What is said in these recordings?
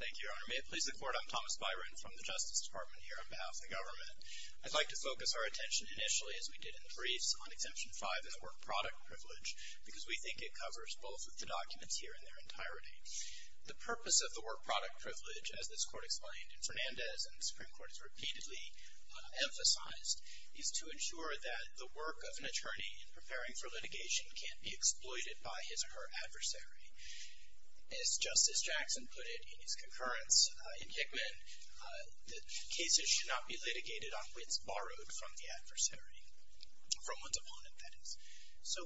Thank you, Your Honor. May it please the Court, I'm Thomas Byron from the Justice Department here on behalf of the government. I'd like to focus our attention initially, as we did in the briefs, on Exemption 5 and the Work Product Privilege, because we think it covers both of the documents here in their entirety. The purpose of the Work Product Privilege, as this Court explained in Fernandez and the Supreme Court has repeatedly emphasized, is to ensure that the work of an attorney in preparing for litigation can't be exploited by his or her adversary. As Justice Jackson put it in his concurrence in Hickman, that cases should not be litigated on wits borrowed from the adversary, from one's opponent, that is. So,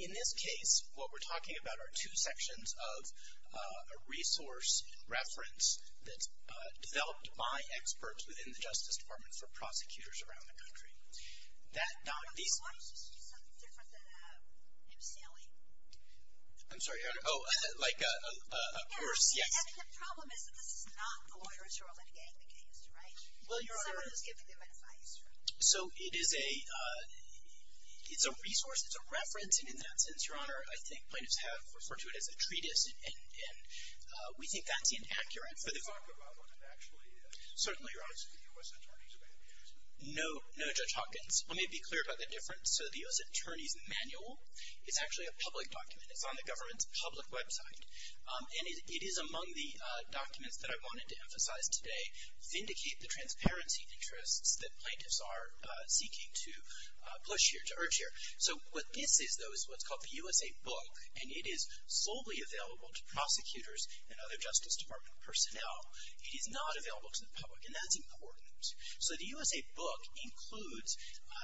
in this case, what we're talking about are two sections of a resource reference that's developed by experts within the Justice Department for prosecutors around the country. Why don't you use something different than MCLE? I'm sorry, Your Honor. Oh, like a course, yes. And the problem is that this is not a lawyer's role in litigating the case, right? Well, Your Honor. It's someone who's giving them advice, right? So, it is a resource, it's a referencing in that sense, Your Honor. I think plaintiffs have referred to it as a treatise, and we think that's inaccurate for the court. I'm talking about one that actually, certainly, Your Honor, is to the U.S. Attorneys of any interest. No Judge Hopkins. Let me be clear about the difference. So, the U.S. Attorney's Manual is actually a public document. It's on the government's public website. And it is among the documents that I wanted to emphasize today, vindicate the transparency interests that plaintiffs are seeking to push here, to urge here. So, what this is, though, is what's called the USA Book, and it is solely available to prosecutors and other Justice Department personnel. It is not available to the public, and that's important. So, the USA Book includes,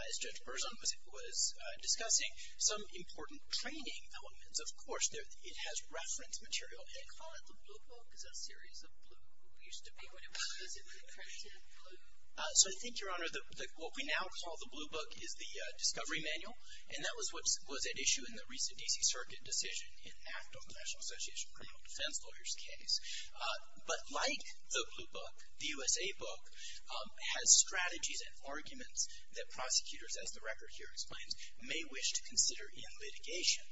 as Judge Berzon was discussing, some important training elements. Of course, it has reference material. They call it the Blue Book. Is that a series of blue books? It used to be what it was. Is it the accredited blue book? So, I think, Your Honor, what we now call the Blue Book is the Discovery Manual, and that was at issue in the recent D.C. Circuit decision, an act of the National Association of Criminal Defense Lawyers case. But like the Blue Book, the USA Book has strategies and arguments that prosecutors, as the record here explains, may wish to consider in litigation.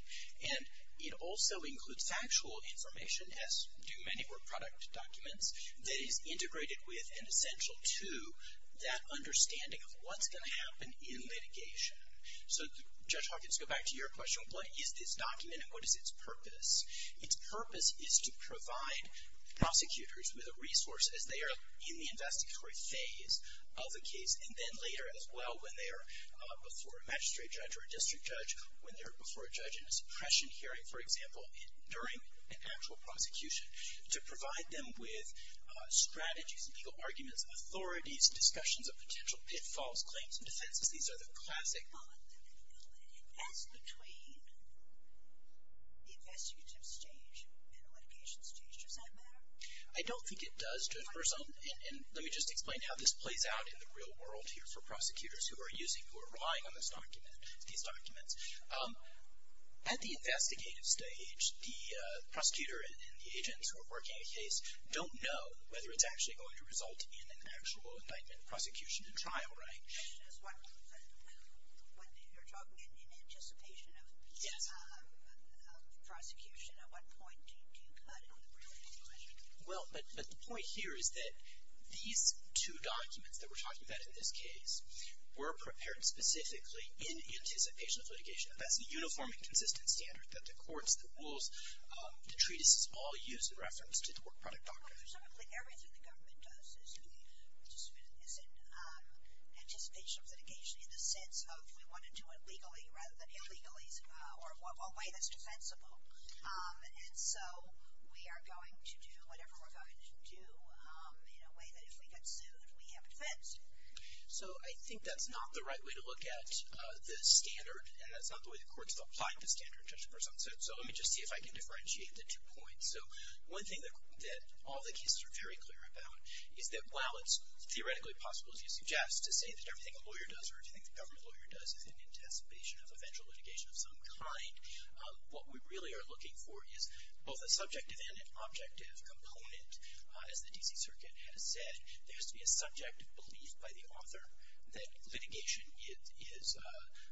And it also includes factual information, as do many more product documents, that is integrated with and essential to that understanding of what's going to happen in litigation. So, Judge Hawkins, to go back to your question, what is this document and what is its purpose? Its purpose is to provide prosecutors with a resource, as they are in the investigatory phase of a case, and then later, as well, when they are before a magistrate judge or a district judge, when they're before a judge in a suppression hearing, for example, during an actual prosecution, to provide them with strategies and legal arguments, authorities, discussions of potential pitfalls, claims, and defenses. These are the classic... I don't think it does to a person, and let me just explain how this plays out in the real world here for prosecutors who are using, who are relying on this document, these documents. At the investigative stage, the prosecutor and the agents who are working a case don't know whether it's actually going to result in an actual indictment, prosecution, and trial, right? When you're talking in anticipation of... Yes. Prosecution, at what point do you cut it? Well, but the point here is that these two documents that we're talking about in this case were prepared specifically in anticipation of litigation, and that's the uniform and consistent standard that the courts, the rules, the treatises all use in reference to the Work Product Doctrine. Presumably, everything the government does is in anticipation of litigation in the sense of we want to do it legally rather than illegally, or a way that's defensible. And so we are going to do whatever we're going to do in a way that if we get sued, we have defense. So I think that's not the right way to look at the standard, and that's not the way the courts have applied the standard in terms of presumption. So let me just see if I can differentiate the two points. So one thing that all the cases are very clear about is that while it's theoretically possible, as you suggest, to say that everything a lawyer does or everything the government lawyer does is in anticipation of eventual litigation of some kind, what we really are looking for is both a subjective and an objective component. As the D.C. Circuit has said, there has to be a subjective belief by the author that litigation is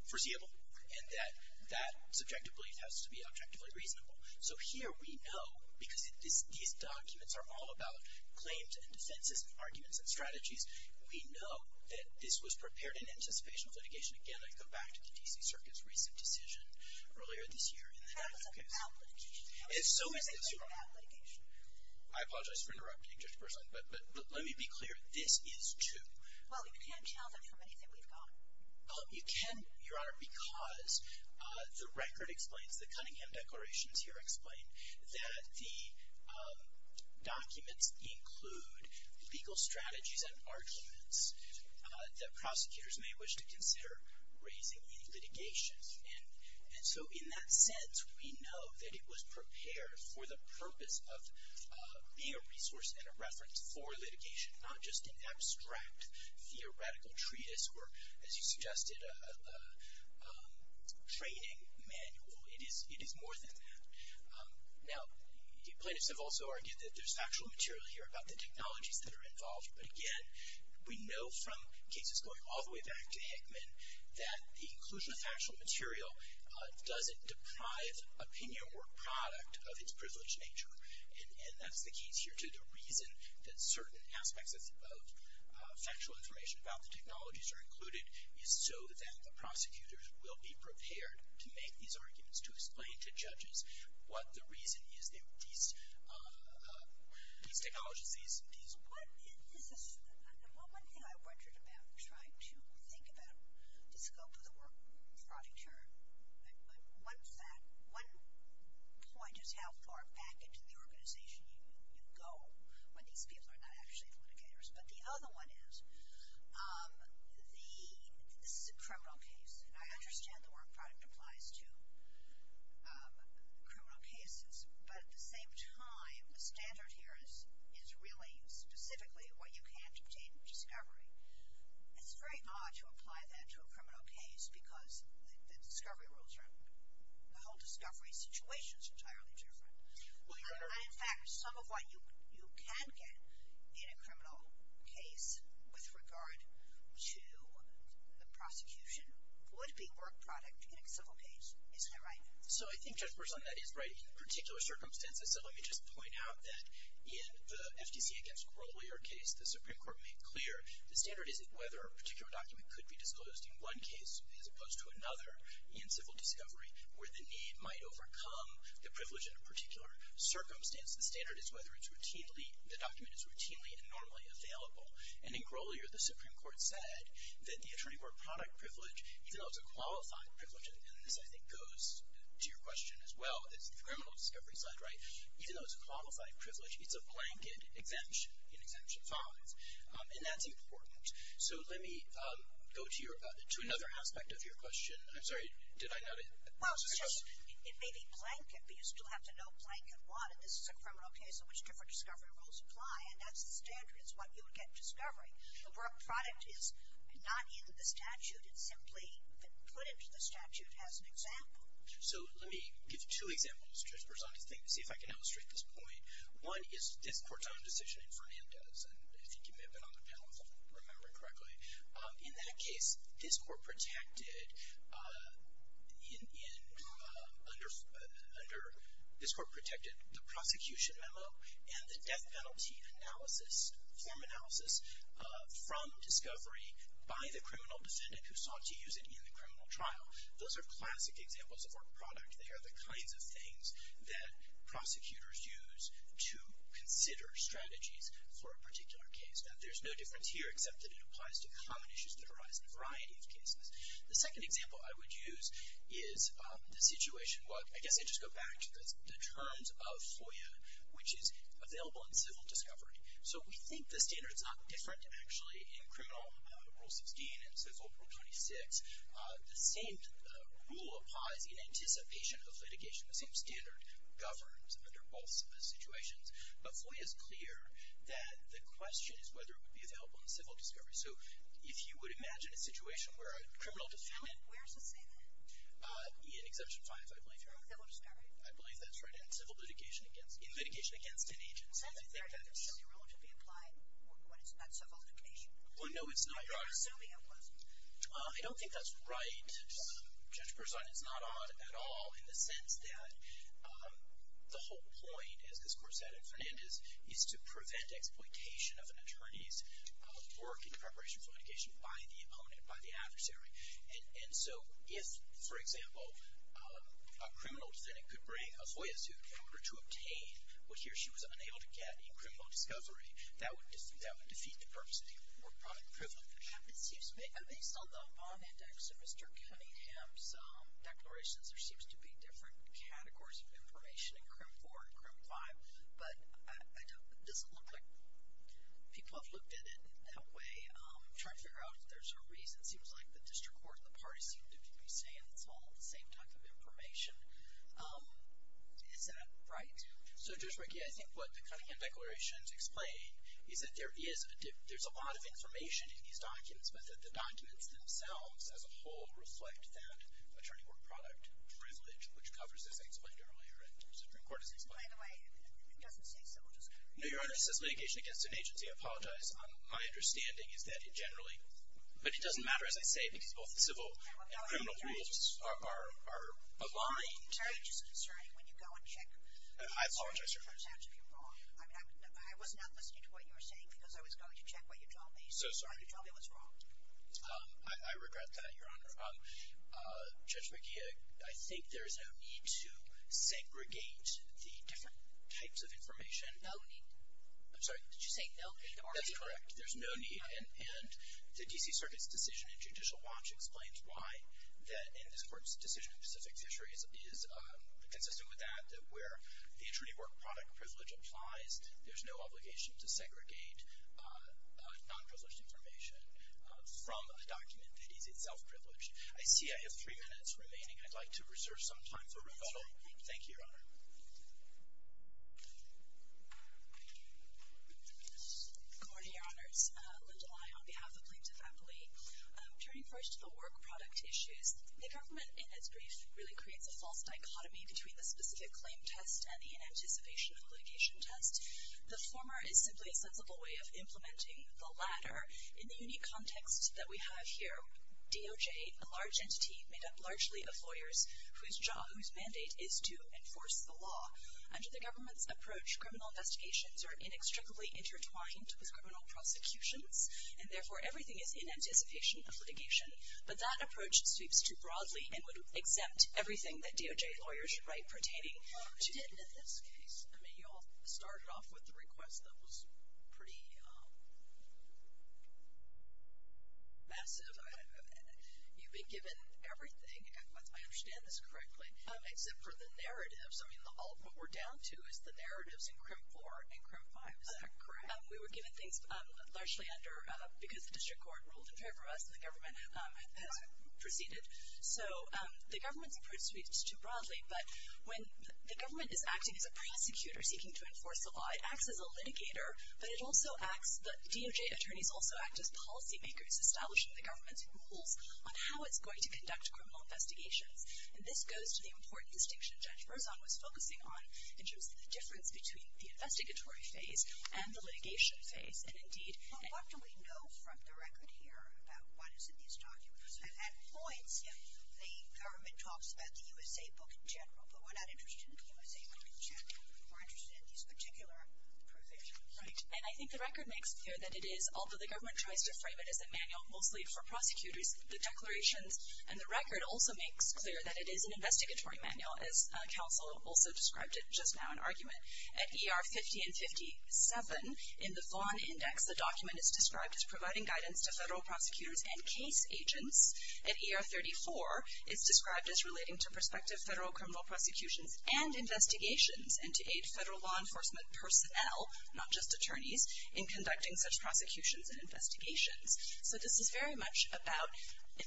foreseeable and that that subjective belief has to be objectively reasonable. So here we know, because these documents are all about claims and defenses and arguments and strategies, we know that this was prepared in anticipation of litigation. Again, I go back to the D.C. Circuit's recent decision earlier this year in the Hannon case. That was about litigation. And so is this one. That was a claim about litigation. I apologize for interrupting, Judge Burson, but let me be clear. This is two. Well, you can't tell them from anything we've got. You can, Your Honor, because the record explains, the Cunningham declarations here explain, that the documents include legal strategies and arguments that prosecutors may wish to consider raising in litigation. And so in that sense, we know that it was prepared for the purpose of being a resource and a reference for litigation, not just an abstract theoretical treatise or, as you suggested, a training manual. It is more than that. Now, plaintiffs have also argued that there's factual material here about the technologies that are involved. But again, we know from cases going all the way back to Hickman, that the inclusion of factual material doesn't deprive opinion or product of its privileged nature. And that's the key here to the reason that certain aspects of factual information about the technologies are included, is so that the prosecutors will be prepared to make these arguments, to explain to judges what the reason is that these technologies, these. One thing I wondered about trying to think about the scope of the work product here. One point is how far back into the organization you go when these people are not actually litigators. But the other one is, this is a criminal case. And I understand the work product applies to criminal cases. But at the same time, the standard here is really specifically what you can't obtain in discovery. It's very odd to apply that to a criminal case because the discovery rules are, the whole discovery situation is entirely different. And in fact, some of what you can get in a criminal case with regard to the prosecution would be work product in a civil case. Isn't that right? So I think Judge Berzonette is right in particular circumstances. So let me just point out that in the FTC against Grolier case, the Supreme Court made clear, the standard is whether a particular document could be disclosed in one case as opposed to another in civil discovery where the need might overcome the privilege in a particular circumstance. The standard is whether it's routinely, the document is routinely and normally available. And in Grolier, the Supreme Court said that the attorney work product privilege, even though it's a qualified privilege, and this I think goes to your question as well, it's the criminal discovery side, right? Even though it's a qualified privilege, it's a blanket exemption in Exemption 5. And that's important. So let me go to another aspect of your question. I'm sorry, did I not answer your question? Well, it may be blanket, but you still have to know blanket what. And this is a criminal case in which different discovery rules apply. And that's the standard is what you would get in discovery. The work product is not in the statute. It's simply put into the statute as an example. So let me give you two examples just to see if I can illustrate this point. One is this court's own decision in Fernandez. And I think you may have been on the panel if I'm remembering correctly. In that case, this court protected under, this court protected the prosecution memo and the death penalty analysis, form analysis, from discovery by the criminal defendant who sought to use it in the criminal trial. Those are classic examples of work product. They are the kinds of things that prosecutors use to consider strategies for a particular case. Now, there's no difference here except that it applies to common issues that arise in a variety of cases. The second example I would use is the situation, I guess I'd just go back to the terms of FOIA, which is available in civil discovery. So we think the standard is not different, actually, in criminal Rule 16 and civil Rule 26. The same rule applies in anticipation of litigation. The same standard governs under both situations. But FOIA is clear that the question is whether it would be available in civil discovery. So if you would imagine a situation where a criminal defendant Where does it say that? In Exemption 5, I believe, Your Honor. In civil discovery? I believe that's right. In litigation against an agency. Well, that's the standard that should be applied when it's not civil litigation. Well, no, it's not, Your Honor. I'm assuming it wasn't. I don't think that's right. Judge Berzon is not on at all in the sense that the whole point, as this court said at Fernandez, is to prevent exploitation of an attorney's work in preparation for litigation by the opponent, by the adversary. And so if, for example, a criminal defendant could bring a FOIA suit in order to obtain what he or she was unable to get in criminal discovery, that would defeat the purpose of the court. Based on the bond index of Mr. Cunningham's declarations, there seems to be different categories of information in CRIM 4 and CRIM 5. But it doesn't look like people have looked at it in that way. I'm trying to figure out if there's a reason. It seems like the district court and the parties seem to be saying it's all the same type of information. Is that right? So, Judge Rekia, I think what the Cunningham declarations explain is that there is a lot of information in these documents, but that the documents themselves as a whole reflect that attorney work product privilege, which covers, as I explained earlier, and the Supreme Court has explained. By the way, it doesn't say so. No, Your Honor, it says litigation against an agency. I apologize. My understanding is that it generally, but it doesn't matter, as I say, because both civil and criminal rules are aligned. It's very disconcerting when you go and check. I apologize, Your Honor. It turns out to be wrong. I was not listening to what you were saying because I was going to check what you told me. So sorry. You told me it was wrong. I regret that, Your Honor. Judge Rekia, I think there is no need to segregate the different types of information. No need. I'm sorry. Did you say no need? That's correct. There's no need. And the D.C. Circuit's decision in Judicial Watch explains why, and this Court's decision in Pacific Fisheries is consistent with that, that where the attorney work product privilege applies, there's no obligation to segregate nonprivileged information from a document that is itself privileged. I see I have three minutes remaining. I'd like to reserve some time for rebuttal. Thank you, Your Honor. Good morning, Your Honors. Linda Lai on behalf of Plaintiff Appellee. Turning first to the work product issues, the government in its brief really creates a false dichotomy between the specific claim test and the anticipation of litigation test. The former is simply a sensible way of implementing the latter. In the unique context that we have here, DOJ, a large entity made up largely of lawyers, whose mandate is to enforce the law. Under the government's approach, criminal investigations are inextricably intertwined with criminal prosecutions, and therefore everything is in anticipation of litigation. But that approach sweeps too broadly and would exempt everything that DOJ lawyers write pertaining to. In this case, I mean, you all started off with the request that was pretty massive. You've been given everything, if I understand this correctly, except for the narratives. I mean, all of what we're down to is the narratives in CRIM 4 and CRIM 5. Is that correct? We were given things largely because the district court ruled in favor of us, and the government has proceeded. So the government's approach sweeps too broadly, but when the government is acting as a prosecutor seeking to enforce the law, it acts as a litigator, but DOJ attorneys also act as policymakers, establishing the government's rules on how it's going to conduct criminal investigations. And this goes to the important distinction Judge Berzon was focusing on in terms of the difference between the investigatory phase and the litigation phase. And, indeed, What do we know from the record here about what is in these documents? At points, the government talks about the USA Book in general, but we're not interested in the USA Book in general. We're interested in these particular provisions. Right. And I think the record makes clear that it is, although the government tries to frame it as a manual mostly for prosecutors, the declarations and the record also makes clear that it is an investigatory manual, as counsel also described it just now in argument. At ER 50 and 57, in the Vaughan Index, the document is described as providing guidance to federal prosecutors and case agents. At ER 34, it's described as relating to prospective federal criminal prosecutions and investigations and to aid federal law enforcement personnel, not just attorneys, in conducting such prosecutions and investigations. So this is very much about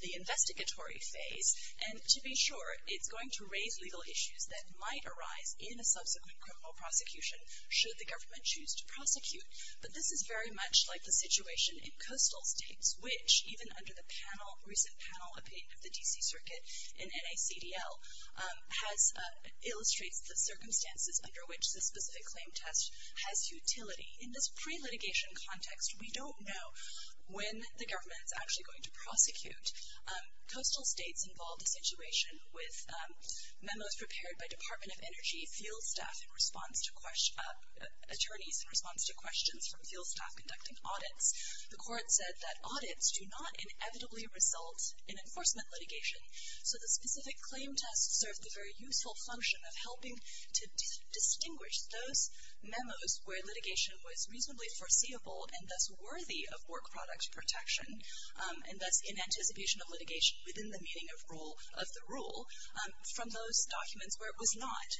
the investigatory phase. And to be sure, it's going to raise legal issues that might arise in a subsequent criminal prosecution should the government choose to prosecute. But this is very much like the situation in coastal states, which, even under the recent panel opinion of the D.C. Circuit and NACDL, illustrates the circumstances under which the specific claim test has utility. In this pre-litigation context, we don't know when the government is actually going to prosecute. Coastal states involved a situation with memos prepared by Department of Energy field staff in response to questions from field staff conducting audits. The court said that audits do not inevitably result in enforcement litigation, so the specific claim test served the very useful function of helping to distinguish those memos where litigation was reasonably foreseeable and thus worthy of work product protection, and thus in anticipation of litigation within the meaning of the rule, from those documents where it was not.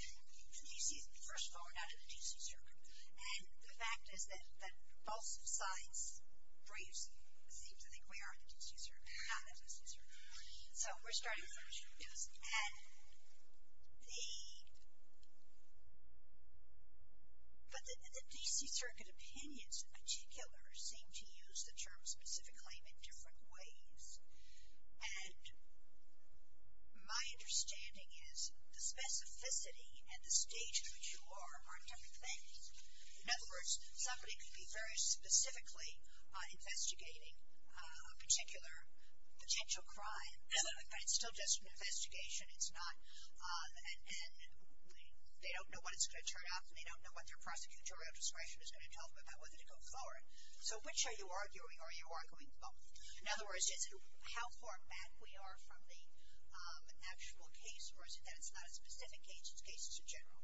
And you see, first of all, we're not in the D.C. Circuit. And the fact is that both sides' briefs seem to think we are in the D.C. Circuit, not in the D.C. Circuit. So we're starting fresh. But the D.C. Circuit opinions in particular seem to use the term specific claim in different ways. And my understanding is the specificity and the statehood you are are different things. In other words, somebody could be very specifically investigating a particular potential crime, but it's still just an investigation. It's not an end. They don't know what it's going to turn out, and they don't know what their prosecutorial discretion is going to tell them about whether to go forward. So which are you arguing? Are you arguing both? In other words, is it how far back we are from the actual case, or is it that it's not a specific case, it's a case that's a general?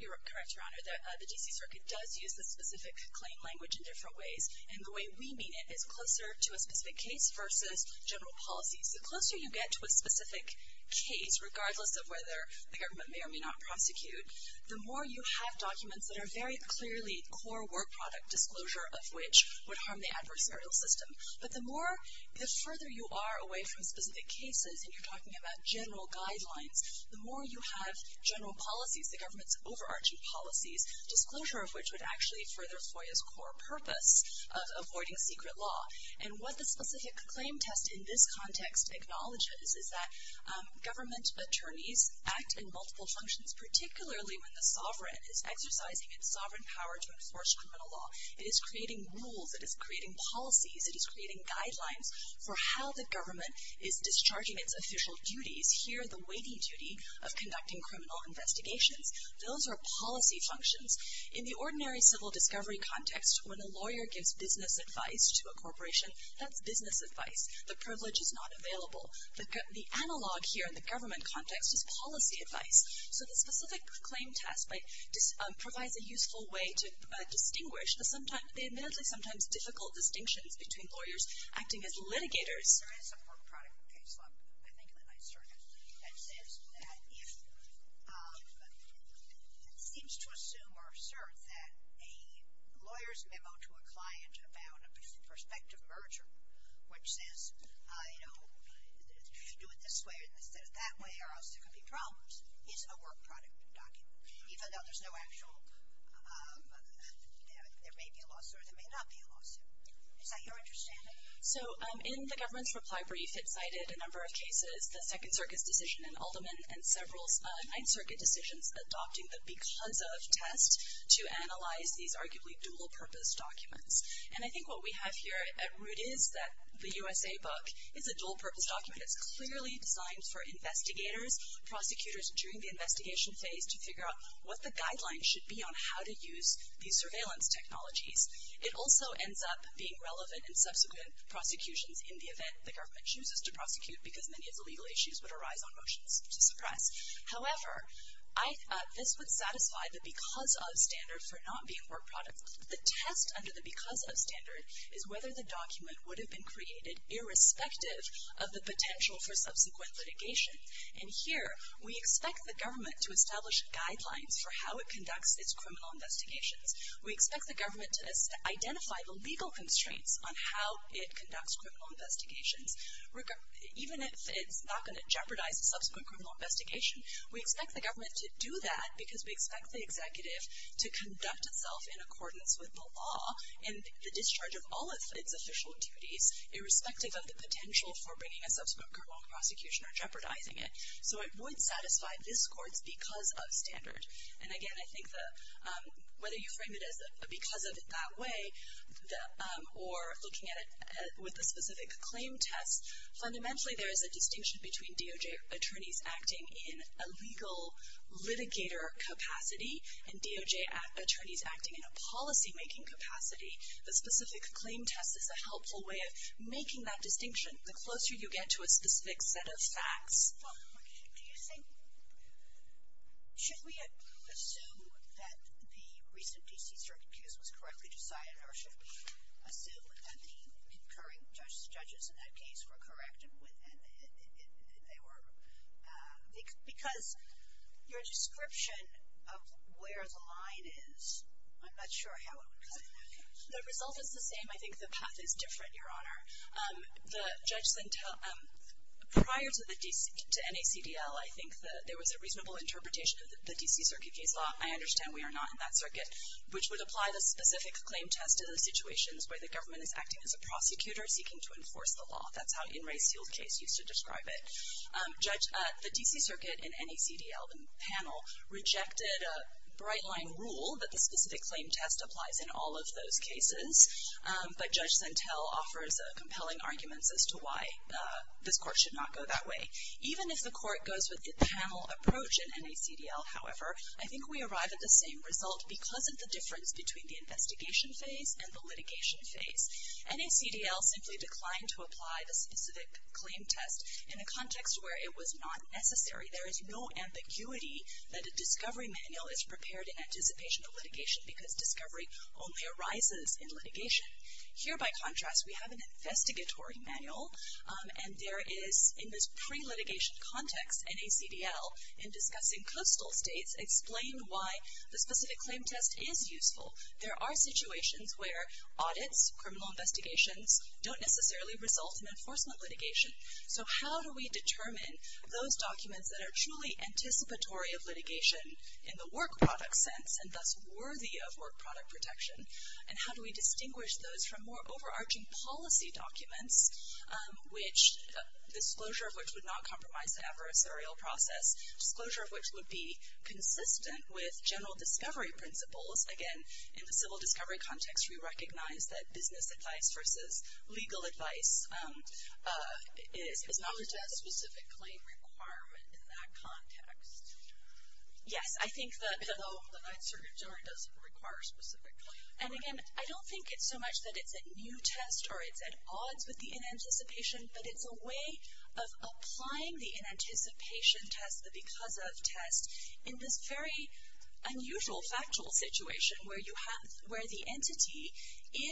You're correct, Your Honor. The D.C. Circuit does use the specific claim language in different ways, and the way we mean it is closer to a specific case versus general policies. The closer you get to a specific case, regardless of whether the government may or may not prosecute, the more you have documents that are very clearly core work product disclosure, of which would harm the adversarial system. But the more, the further you are away from specific cases, and you're talking about general guidelines, the more you have general policies, the government's overarching policies, disclosure of which would actually further FOIA's core purpose of avoiding secret law. And what the specific claim test in this context acknowledges is that government attorneys act in multiple functions, particularly when the sovereign is exercising its sovereign power to enforce criminal law. It is creating rules. It is creating policies. It is creating guidelines for how the government is discharging its official duties, here the weighty duty of conducting criminal investigations. Those are policy functions. In the ordinary civil discovery context, when a lawyer gives business advice to a corporation, that's business advice. The privilege is not available. The analog here in the government context is policy advice. So the specific claim test provides a useful way to distinguish the admittedly sometimes difficult distinctions between lawyers acting as litigators. There is a work product case law, I think, in the Ninth Circuit, that says that if it seems to assume or assert that a lawyer's memo to a client about a prospective merger, which says, you know, do it this way instead of that way or else there could be problems, is a work product document, even though there's no actual, there may be a lawsuit or there may not be a lawsuit. Is that your understanding? So in the government's reply brief, it cited a number of cases, the Second Circuit's decision in Alderman and several Ninth Circuit decisions adopting the because of test to analyze these arguably dual-purpose documents. And I think what we have here at root is that the USA book is a dual-purpose document. It's clearly designed for investigators, prosecutors during the investigation phase, to figure out what the guidelines should be on how to use these surveillance technologies. It also ends up being relevant in subsequent prosecutions in the event the government chooses to prosecute because many of the legal issues would arise on motions to suppress. However, this would satisfy the because of standard for not being work products. The test under the because of standard is whether the document would have been created irrespective of the potential for subsequent litigation. And here, we expect the government to establish guidelines for how it conducts its criminal investigations. We expect the government to identify the legal constraints on how it conducts criminal investigations. Even if it's not going to jeopardize the subsequent criminal investigation, we expect the government to do that because we expect the executive to conduct itself in accordance with the law and the discharge of all of its official duties irrespective of the potential for bringing a subsequent criminal prosecution or jeopardizing it. So it would satisfy this court's because of standard. And again, I think whether you frame it as a because of it that way or looking at it with a specific claim test, fundamentally there is a distinction between DOJ attorneys acting in a legal litigator capacity and DOJ attorneys acting in a policymaking capacity. The specific claim test is a helpful way of making that distinction. The closer you get to a specific set of facts. Yes? Should we assume that the recent DC circuit case was correctly decided or should we assume that the concurring judges in that case were correct? Because your description of where the line is, I'm not sure how it would come to that. The result is the same. I think the path is different, Your Honor. Prior to NACDL, I think that there was a reasonable interpretation of the DC circuit case law. I understand we are not in that circuit, which would apply the specific claim test to the situations where the government is acting as a prosecutor seeking to enforce the law. That's how In Re's field case used to describe it. The DC circuit and NACDL panel rejected a bright-line rule that the specific claim test applies in all of those cases. But Judge Sentel offers compelling arguments as to why this court should not go that way. Even if the court goes with the panel approach in NACDL, however, I think we arrive at the same result because of the difference between the investigation phase and the litigation phase. NACDL simply declined to apply the specific claim test in a context where it was not necessary. There is no ambiguity that a discovery manual is prepared in anticipation of litigation because discovery only arises in litigation. Here, by contrast, we have an investigatory manual. And there is, in this pre-litigation context, NACDL, in discussing coastal states, explained why the specific claim test is useful. There are situations where audits, criminal investigations, don't necessarily result in enforcement litigation. So how do we determine those documents that are truly anticipatory of litigation in the work product sense and thus worthy of work product protection? And how do we distinguish those from more overarching policy documents, disclosure of which would not compromise the adversarial process, disclosure of which would be consistent with general discovery principles? Again, in the civil discovery context, we recognize that business advice versus legal advice is not a test. It's a specific claim requirement in that context. Yes. I think that the Ninth Circuit Jury does require a specific claim. And, again, I don't think it's so much that it's a new test or it's at odds with the inanticipation, but it's a way of applying the inanticipation test, the because of test, in this very unusual factual situation where the entity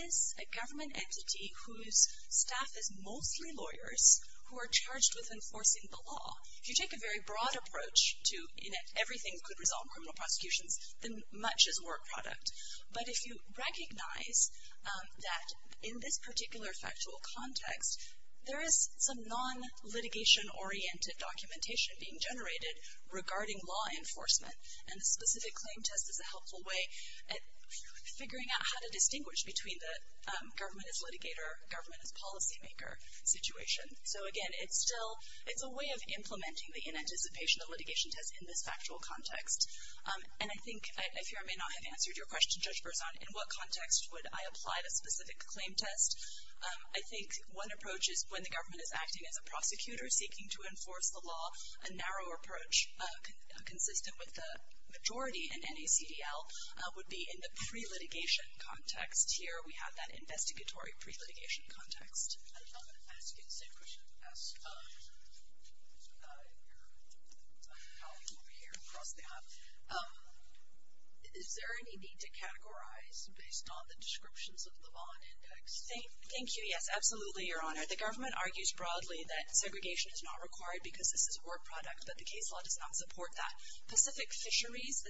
is a government entity whose staff is mostly lawyers who are charged with enforcing the law. If you take a very broad approach to everything that could resolve criminal prosecutions, then much is work product. But if you recognize that in this particular factual context, there is some non-litigation-oriented documentation being generated regarding law enforcement, and the specific claim test is a helpful way at figuring out how to distinguish between the government as litigator, government as policymaker situation. So, again, it's a way of implementing the inanticipation, the litigation test in this factual context. And I think, if I may not have answered your question, Judge Berzon, in what context would I apply the specific claim test? I think one approach is when the government is acting as a prosecutor seeking to enforce the law. A narrower approach, consistent with the majority in NACDL, would be in the pre-litigation context. Here we have that investigatory pre-litigation context. I'm going to ask you the same question as your colleague over here across the app. Is there any need to categorize based on the descriptions of the law and index? Thank you. Yes, absolutely, Your Honor. The government argues broadly that segregation is not required because this is work product, but the case law does not support that. Pacific Fisheries,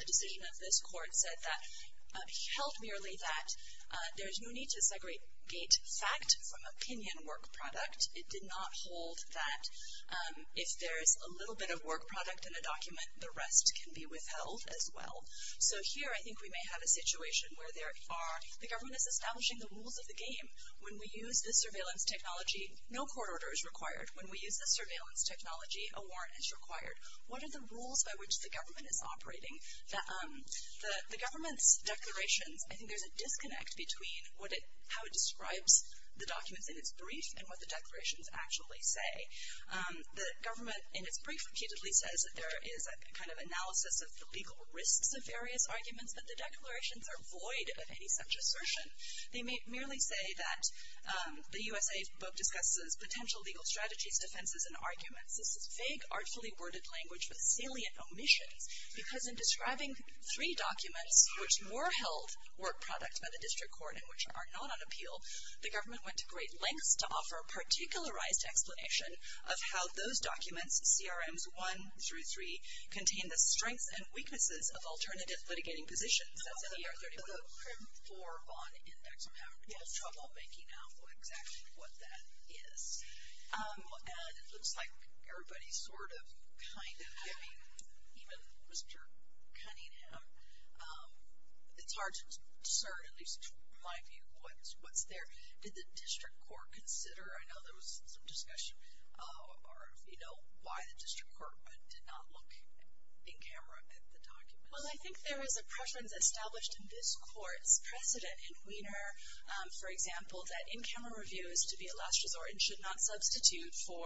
a decision of this court, said that held merely that there's no need to segregate fact from opinion work product. It did not hold that if there's a little bit of work product in a document, the rest can be withheld as well. So here I think we may have a situation where the government is establishing the rules of the game. When we use this surveillance technology, no court order is required. When we use this surveillance technology, a warrant is required. What are the rules by which the government is operating? The government's declarations, I think there's a disconnect between how it describes the documents in its brief and what the declarations actually say. The government in its brief repeatedly says that there is a kind of analysis of the legal risks of various arguments, but the declarations are void of any such assertion. They merely say that the U.S.A. book discusses potential legal strategies, defenses, and arguments. This is vague, artfully worded language with salient omissions because in describing three documents which were held work product by the district court and which are not on appeal, the government went to great lengths to offer a particularized explanation of how those documents, CRMs 1 through 3, contain the strengths and weaknesses of alternative litigating positions. That's in the R31. The CRIM 4 bond index, I'm having a little trouble making out exactly what that is. And it looks like everybody's sort of kind of, I mean, even Mr. Cunningham, it's hard to discern, at least in my view, what's there. Did the district court consider? I know there was some discussion, you know, why the district court did not look in camera at the documents. Well, I think there is a preference established in this court's precedent in Weiner, for example, that in-camera review is to be a last resort and should not substitute for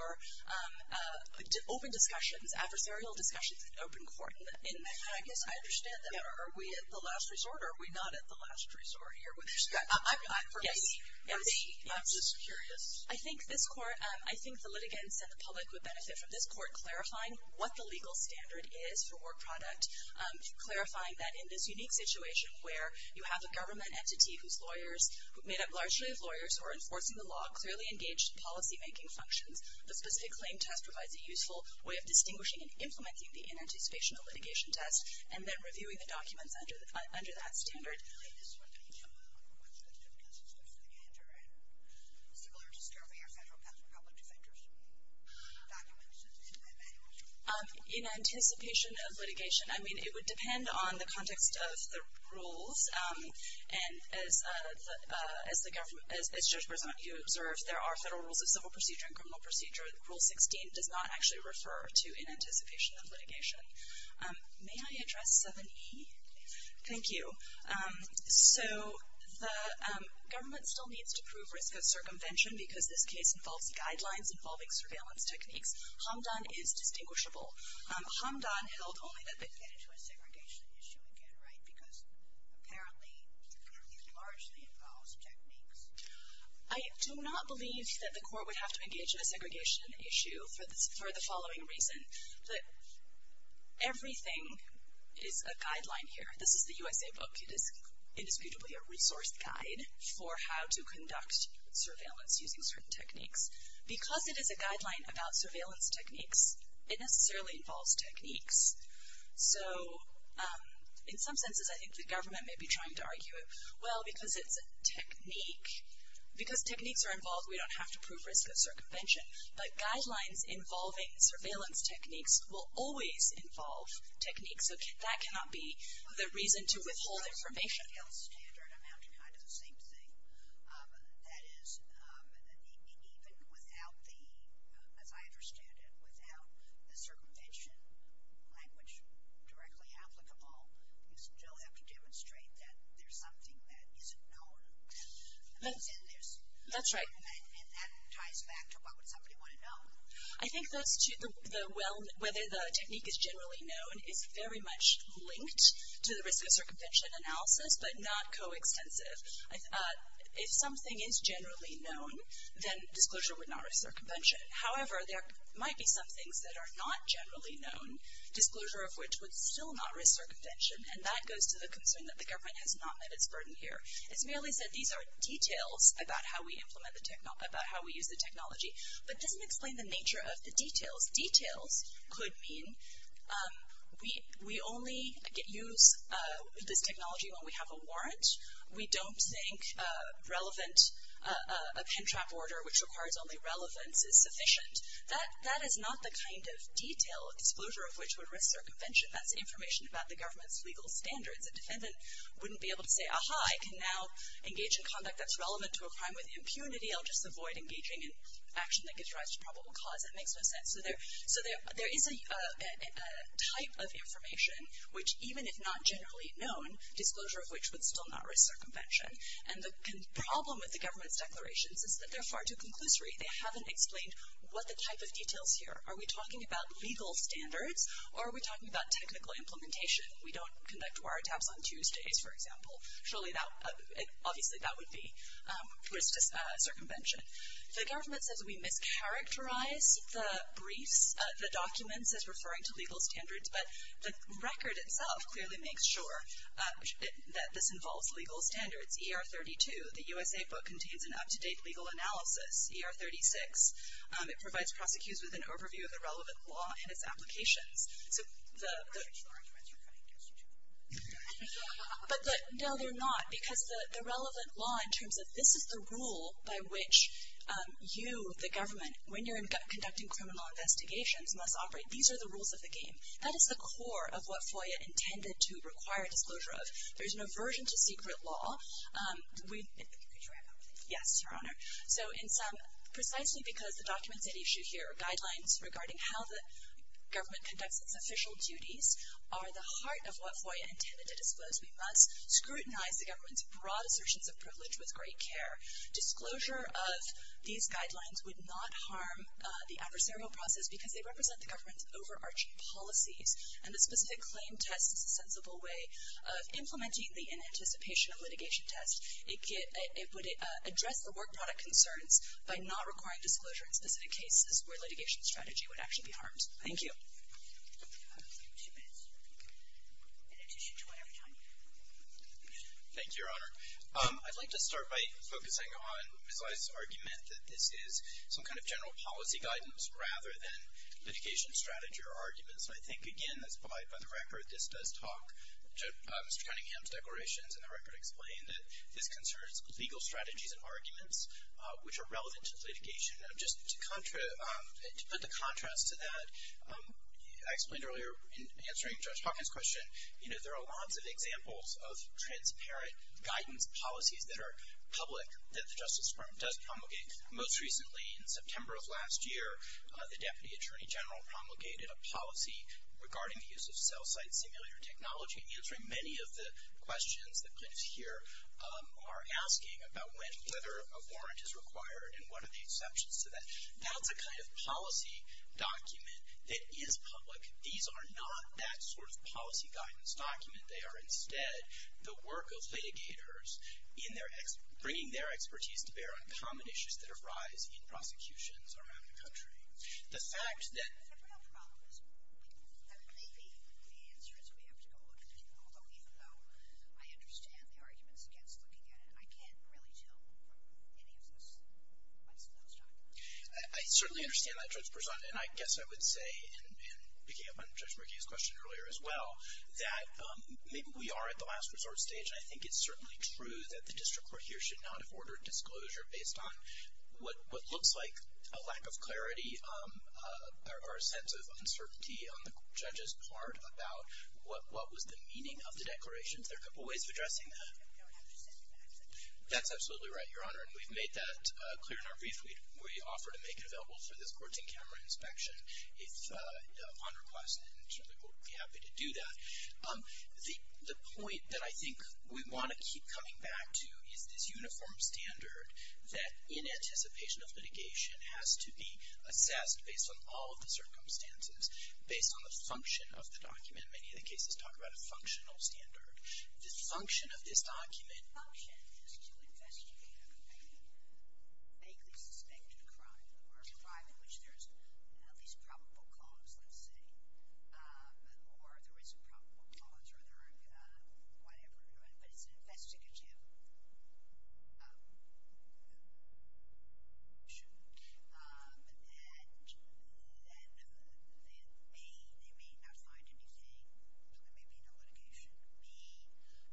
open discussions, adversarial discussions in open court. I guess I understand that. Are we at the last resort or are we not at the last resort here? I'm just curious. I think this court, I think the litigants and the public would benefit from this court clarifying what the legal standard is for work product, clarifying that in this unique situation where you have a government entity whose lawyers, made up largely of lawyers who are enforcing the law, clearly engaged in policymaking functions, the specific claim test provides a useful way of distinguishing and implementing the inanticipation of litigation test and then reviewing the documents under that standard. Okay, this is one that you know of. I don't know if that's difficult. It's just a litigator, right? Similar to scoping a federal patent for public defender's documents, it's an inanticipation of litigation test. Inanticipation of litigation. I mean, it would depend on the context of the rules. And as Judge Berzanti observed, there are federal rules of civil procedure and criminal procedure. Rule 16 does not actually refer to inanticipation of litigation. May I address 7E? Yes. Thank you. So the government still needs to prove risk of circumvention because this case involves guidelines involving surveillance techniques. Hamdan is distinguishable. Hamdan held only that they get into a segregation issue again, right, because apparently it largely involves techniques. I do not believe that the court would have to engage in a segregation issue for the following reason. That everything is a guideline here. This is the USA book. It is indisputably a resource guide for how to conduct surveillance using certain techniques. Because it is a guideline about surveillance techniques, it necessarily involves techniques. So in some senses, I think the government may be trying to argue, well, because it's a technique, because techniques are involved, we don't have to prove risk of circumvention. But guidelines involving surveillance techniques will always involve techniques. So that cannot be the reason to withhold information. With the detailed standard, I'm having kind of the same thing. That is, even without the, as I understand it, without the circumvention language directly applicable, you still have to demonstrate that there's something that isn't known. That's right. And that ties back to what would somebody want to know. I think those two, whether the technique is generally known, is very much linked to the risk of circumvention analysis, but not coextensive. If something is generally known, then disclosure would not risk circumvention. However, there might be some things that are not generally known, disclosure of which would still not risk circumvention. And that goes to the concern that the government has not met its burden here. It's merely said these are details about how we implement the technology, about how we use the technology. But it doesn't explain the nature of the details. Details could mean we only use this technology when we have a warrant. We don't think relevant, a pin trap order which requires only relevance is sufficient. That is not the kind of detail disclosure of which would risk circumvention. That's information about the government's legal standards. A defendant wouldn't be able to say, aha, I can now engage in conduct that's relevant to a crime with impunity. I'll just avoid engaging in action that gives rise to probable cause. That makes no sense. So there is a type of information which, even if not generally known, disclosure of which would still not risk circumvention. And the problem with the government's declarations is that they're far too conclusory. They haven't explained what the type of details here. Are we talking about legal standards, or are we talking about technical implementation? We don't conduct wiretaps on Tuesdays, for example. Surely, obviously that would be risk to circumvention. The government says we mischaracterize the briefs, the documents as referring to legal standards, but the record itself clearly makes sure that this involves legal standards. ER 32, the USA book contains an up-to-date legal analysis. ER 36, it provides prosecutors with an overview of the relevant law and its applications. The original arguments are kind of interesting, too. But no, they're not, because the relevant law in terms of this is the rule by which you, the government, when you're conducting criminal investigations, must operate. These are the rules of the game. That is the core of what FOIA intended to require disclosure of. There's an aversion to secret law. Could you wrap up, please? Yes, Your Honor. So precisely because the documents at issue here are guidelines regarding how the government conducts its official duties are the heart of what FOIA intended to disclose. We must scrutinize the government's broad assertions of privilege with great care. Disclosure of these guidelines would not harm the adversarial process because they represent the government's overarching policies, and the specific claim test is a sensible way of implementing the inanticipation of litigation test. It would address the work product concerns by not requiring disclosure in specific cases where litigation strategy would actually be harmed. Thank you. Two minutes in addition to our time. Thank you, Your Honor. I'd like to start by focusing on Ms. Lye's argument that this is some kind of general policy guidance rather than litigation strategy or arguments. And I think, again, that's by the record, this does talk to Mr. Cunningham's declarations, and the record explained that this concerns legal strategies and arguments, which are relevant to litigation. Just to put the contrast to that, I explained earlier in answering Judge Hawkins' question, you know, there are lots of examples of transparent guidance policies that are public that the Justice Department does promulgate. Most recently, in September of last year, the Deputy Attorney General promulgated a policy regarding the use of cell site simulator technology, answering many of the questions that plaintiffs here are asking about whether a warrant is required and what are the exceptions to that. That's a kind of policy document that is public. These are not that sort of policy guidance document. They are, instead, the work of litigators bringing their expertise to bear on common issues that arise in prosecutions around the country. The fact that the real problem is that maybe the answer is we have to go look at it, I certainly understand that, Judge Berzon, and I guess I would say in picking up on Judge McGee's question earlier as well, that maybe we are at the last resort stage, and I think it's certainly true that the district court here should not have ordered disclosure based on what looks like a lack of clarity or a sense of uncertainty on the judge's part about what was the meaning of the declarations. There are a couple of ways of addressing that. That's absolutely right, Your Honor, and we've made that clear in our brief we offer to make available for this courts and camera inspection if on request, and the court would be happy to do that. The point that I think we want to keep coming back to is this uniform standard that in anticipation of litigation has to be assessed based on all of the circumstances, based on the function of the document. Many of the cases talk about a functional standard. The function of this document is to investigate a vaguely suspected crime or a crime in which there is at least a probable cause, let's say, or there is a probable cause or there are whatever, but it's an investigative issue, and then they may not find anything. There may be no litigation.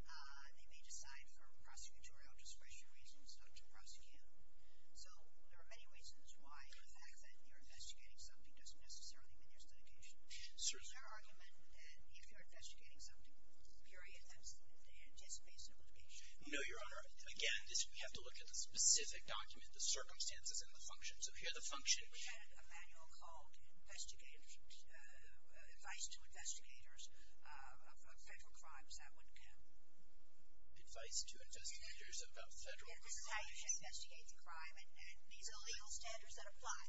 They may decide for prosecutorial discretion reasons not to prosecute. So there are many reasons why the fact that you're investigating something doesn't necessarily mean there's litigation. Is there argument that if you're investigating something, period, that's just based on litigation? No, Your Honor. Again, we have to look at the specific document, the circumstances, and the function. So here the function. We had a manual called Advice to Investigators of Federal Crimes. That wouldn't count. Advice to Investigators of Federal Crimes. Yes, this is how you should investigate the crime, and these are the legal standards that apply.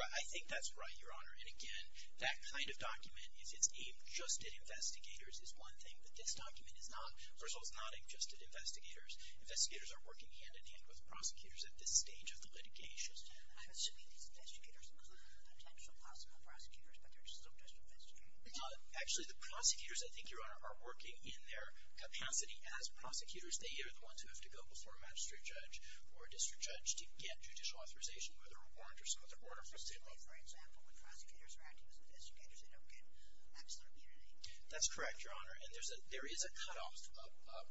I think that's right, Your Honor. And again, that kind of document, if it's aimed just at investigators, is one thing, but this document is not. It's not aimed just at investigators. Investigators are working hand-in-hand with prosecutors at this stage of the litigation. I'm assuming these investigators include potential possible prosecutors, but they're still just investigators. Actually, the prosecutors, I think, Your Honor, are working in their capacity as prosecutors. They are the ones who have to go before a magistrate judge or a district judge to get judicial authorization, whether a warrant or something. For example, when prosecutors are acting as investigators, they don't get maximum immunity. That's correct, Your Honor. And there is a cutoff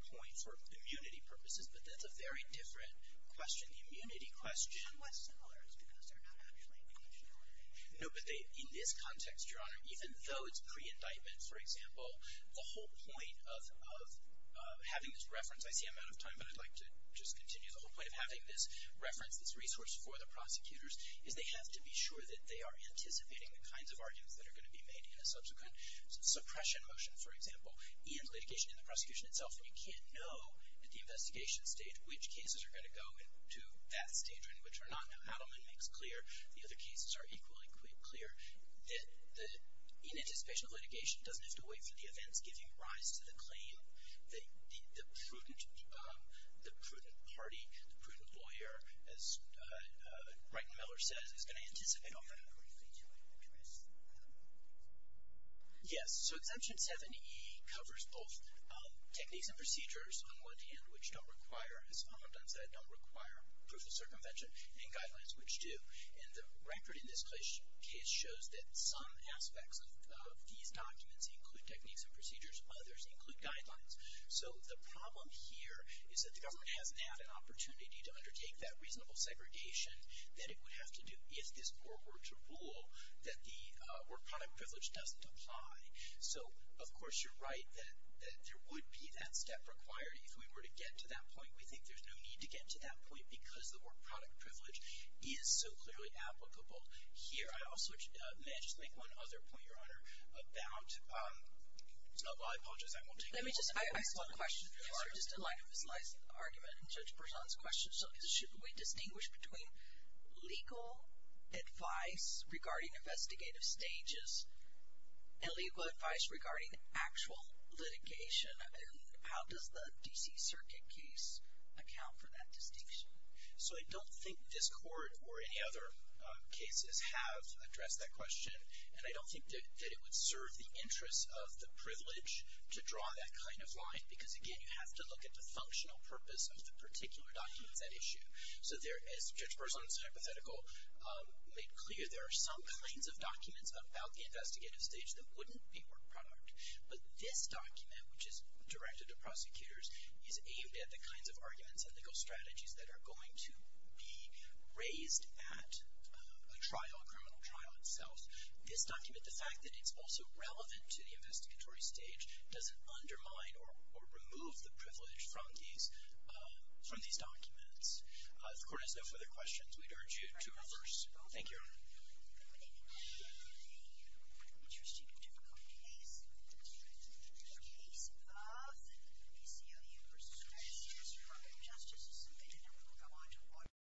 point for immunity purposes, but that's a very different question, the immunity question. And what's similar is because they're not actually getting a jury. No, but in this context, Your Honor, even though it's pre-indictment, for example, the whole point of having this reference, I see I'm out of time, but I'd like to just continue, the whole point of having this reference, this resource for the prosecutors, is they have to be sure that they are anticipating the kinds of arguments that are going to be made in a subsequent suppression motion, for example, and litigation in the prosecution itself. And you can't know at the investigation stage which cases are going to go to that stage or which are not. Now, Adleman makes clear, the other cases are equally clear, that in anticipation of litigation, it doesn't have to wait for the events giving rise to the claim that the prudent party, the prudent lawyer, as Reitman Miller says, is going to anticipate all that. Yes, so Exemption 7E covers both techniques and procedures, on one hand, which don't require, as Solomon Dunn said, don't require proof of circumvention, and guidelines, which do. And the record in this case shows that some aspects of these documents include techniques and procedures, others include guidelines. So the problem here is that the government hasn't had an opportunity to undertake that reasonable segregation that it would have to do if this court were to rule that the work-product privilege doesn't apply. So, of course, you're right that there would be that step required. If we were to get to that point, we think there's no need to get to that point because the work-product privilege is so clearly applicable. Here, I also may just make one other point, Your Honor, about – I apologize, I won't take any more questions. Let me just ask one question, just in light of his last argument and Judge Berzon's question. So should we distinguish between legal advice regarding investigative stages and legal advice regarding actual litigation? And how does the D.C. Circuit case account for that distinction? So I don't think this court or any other cases have addressed that question, and I don't think that it would serve the interests of the privilege to draw that kind of line because, again, you have to look at the functional purpose of the particular documents at issue. So as Judge Berzon's hypothetical made clear, there are some kinds of documents about the investigative stage that wouldn't be work-product. But this document, which is directed to prosecutors, is aimed at the kinds of arguments and legal strategies that are going to be raised at a trial, a criminal trial itself. This document, the fact that it's also relevant to the investigatory stage, doesn't undermine or remove the privilege from these documents. If the court has no further questions, we'd urge you to reverse.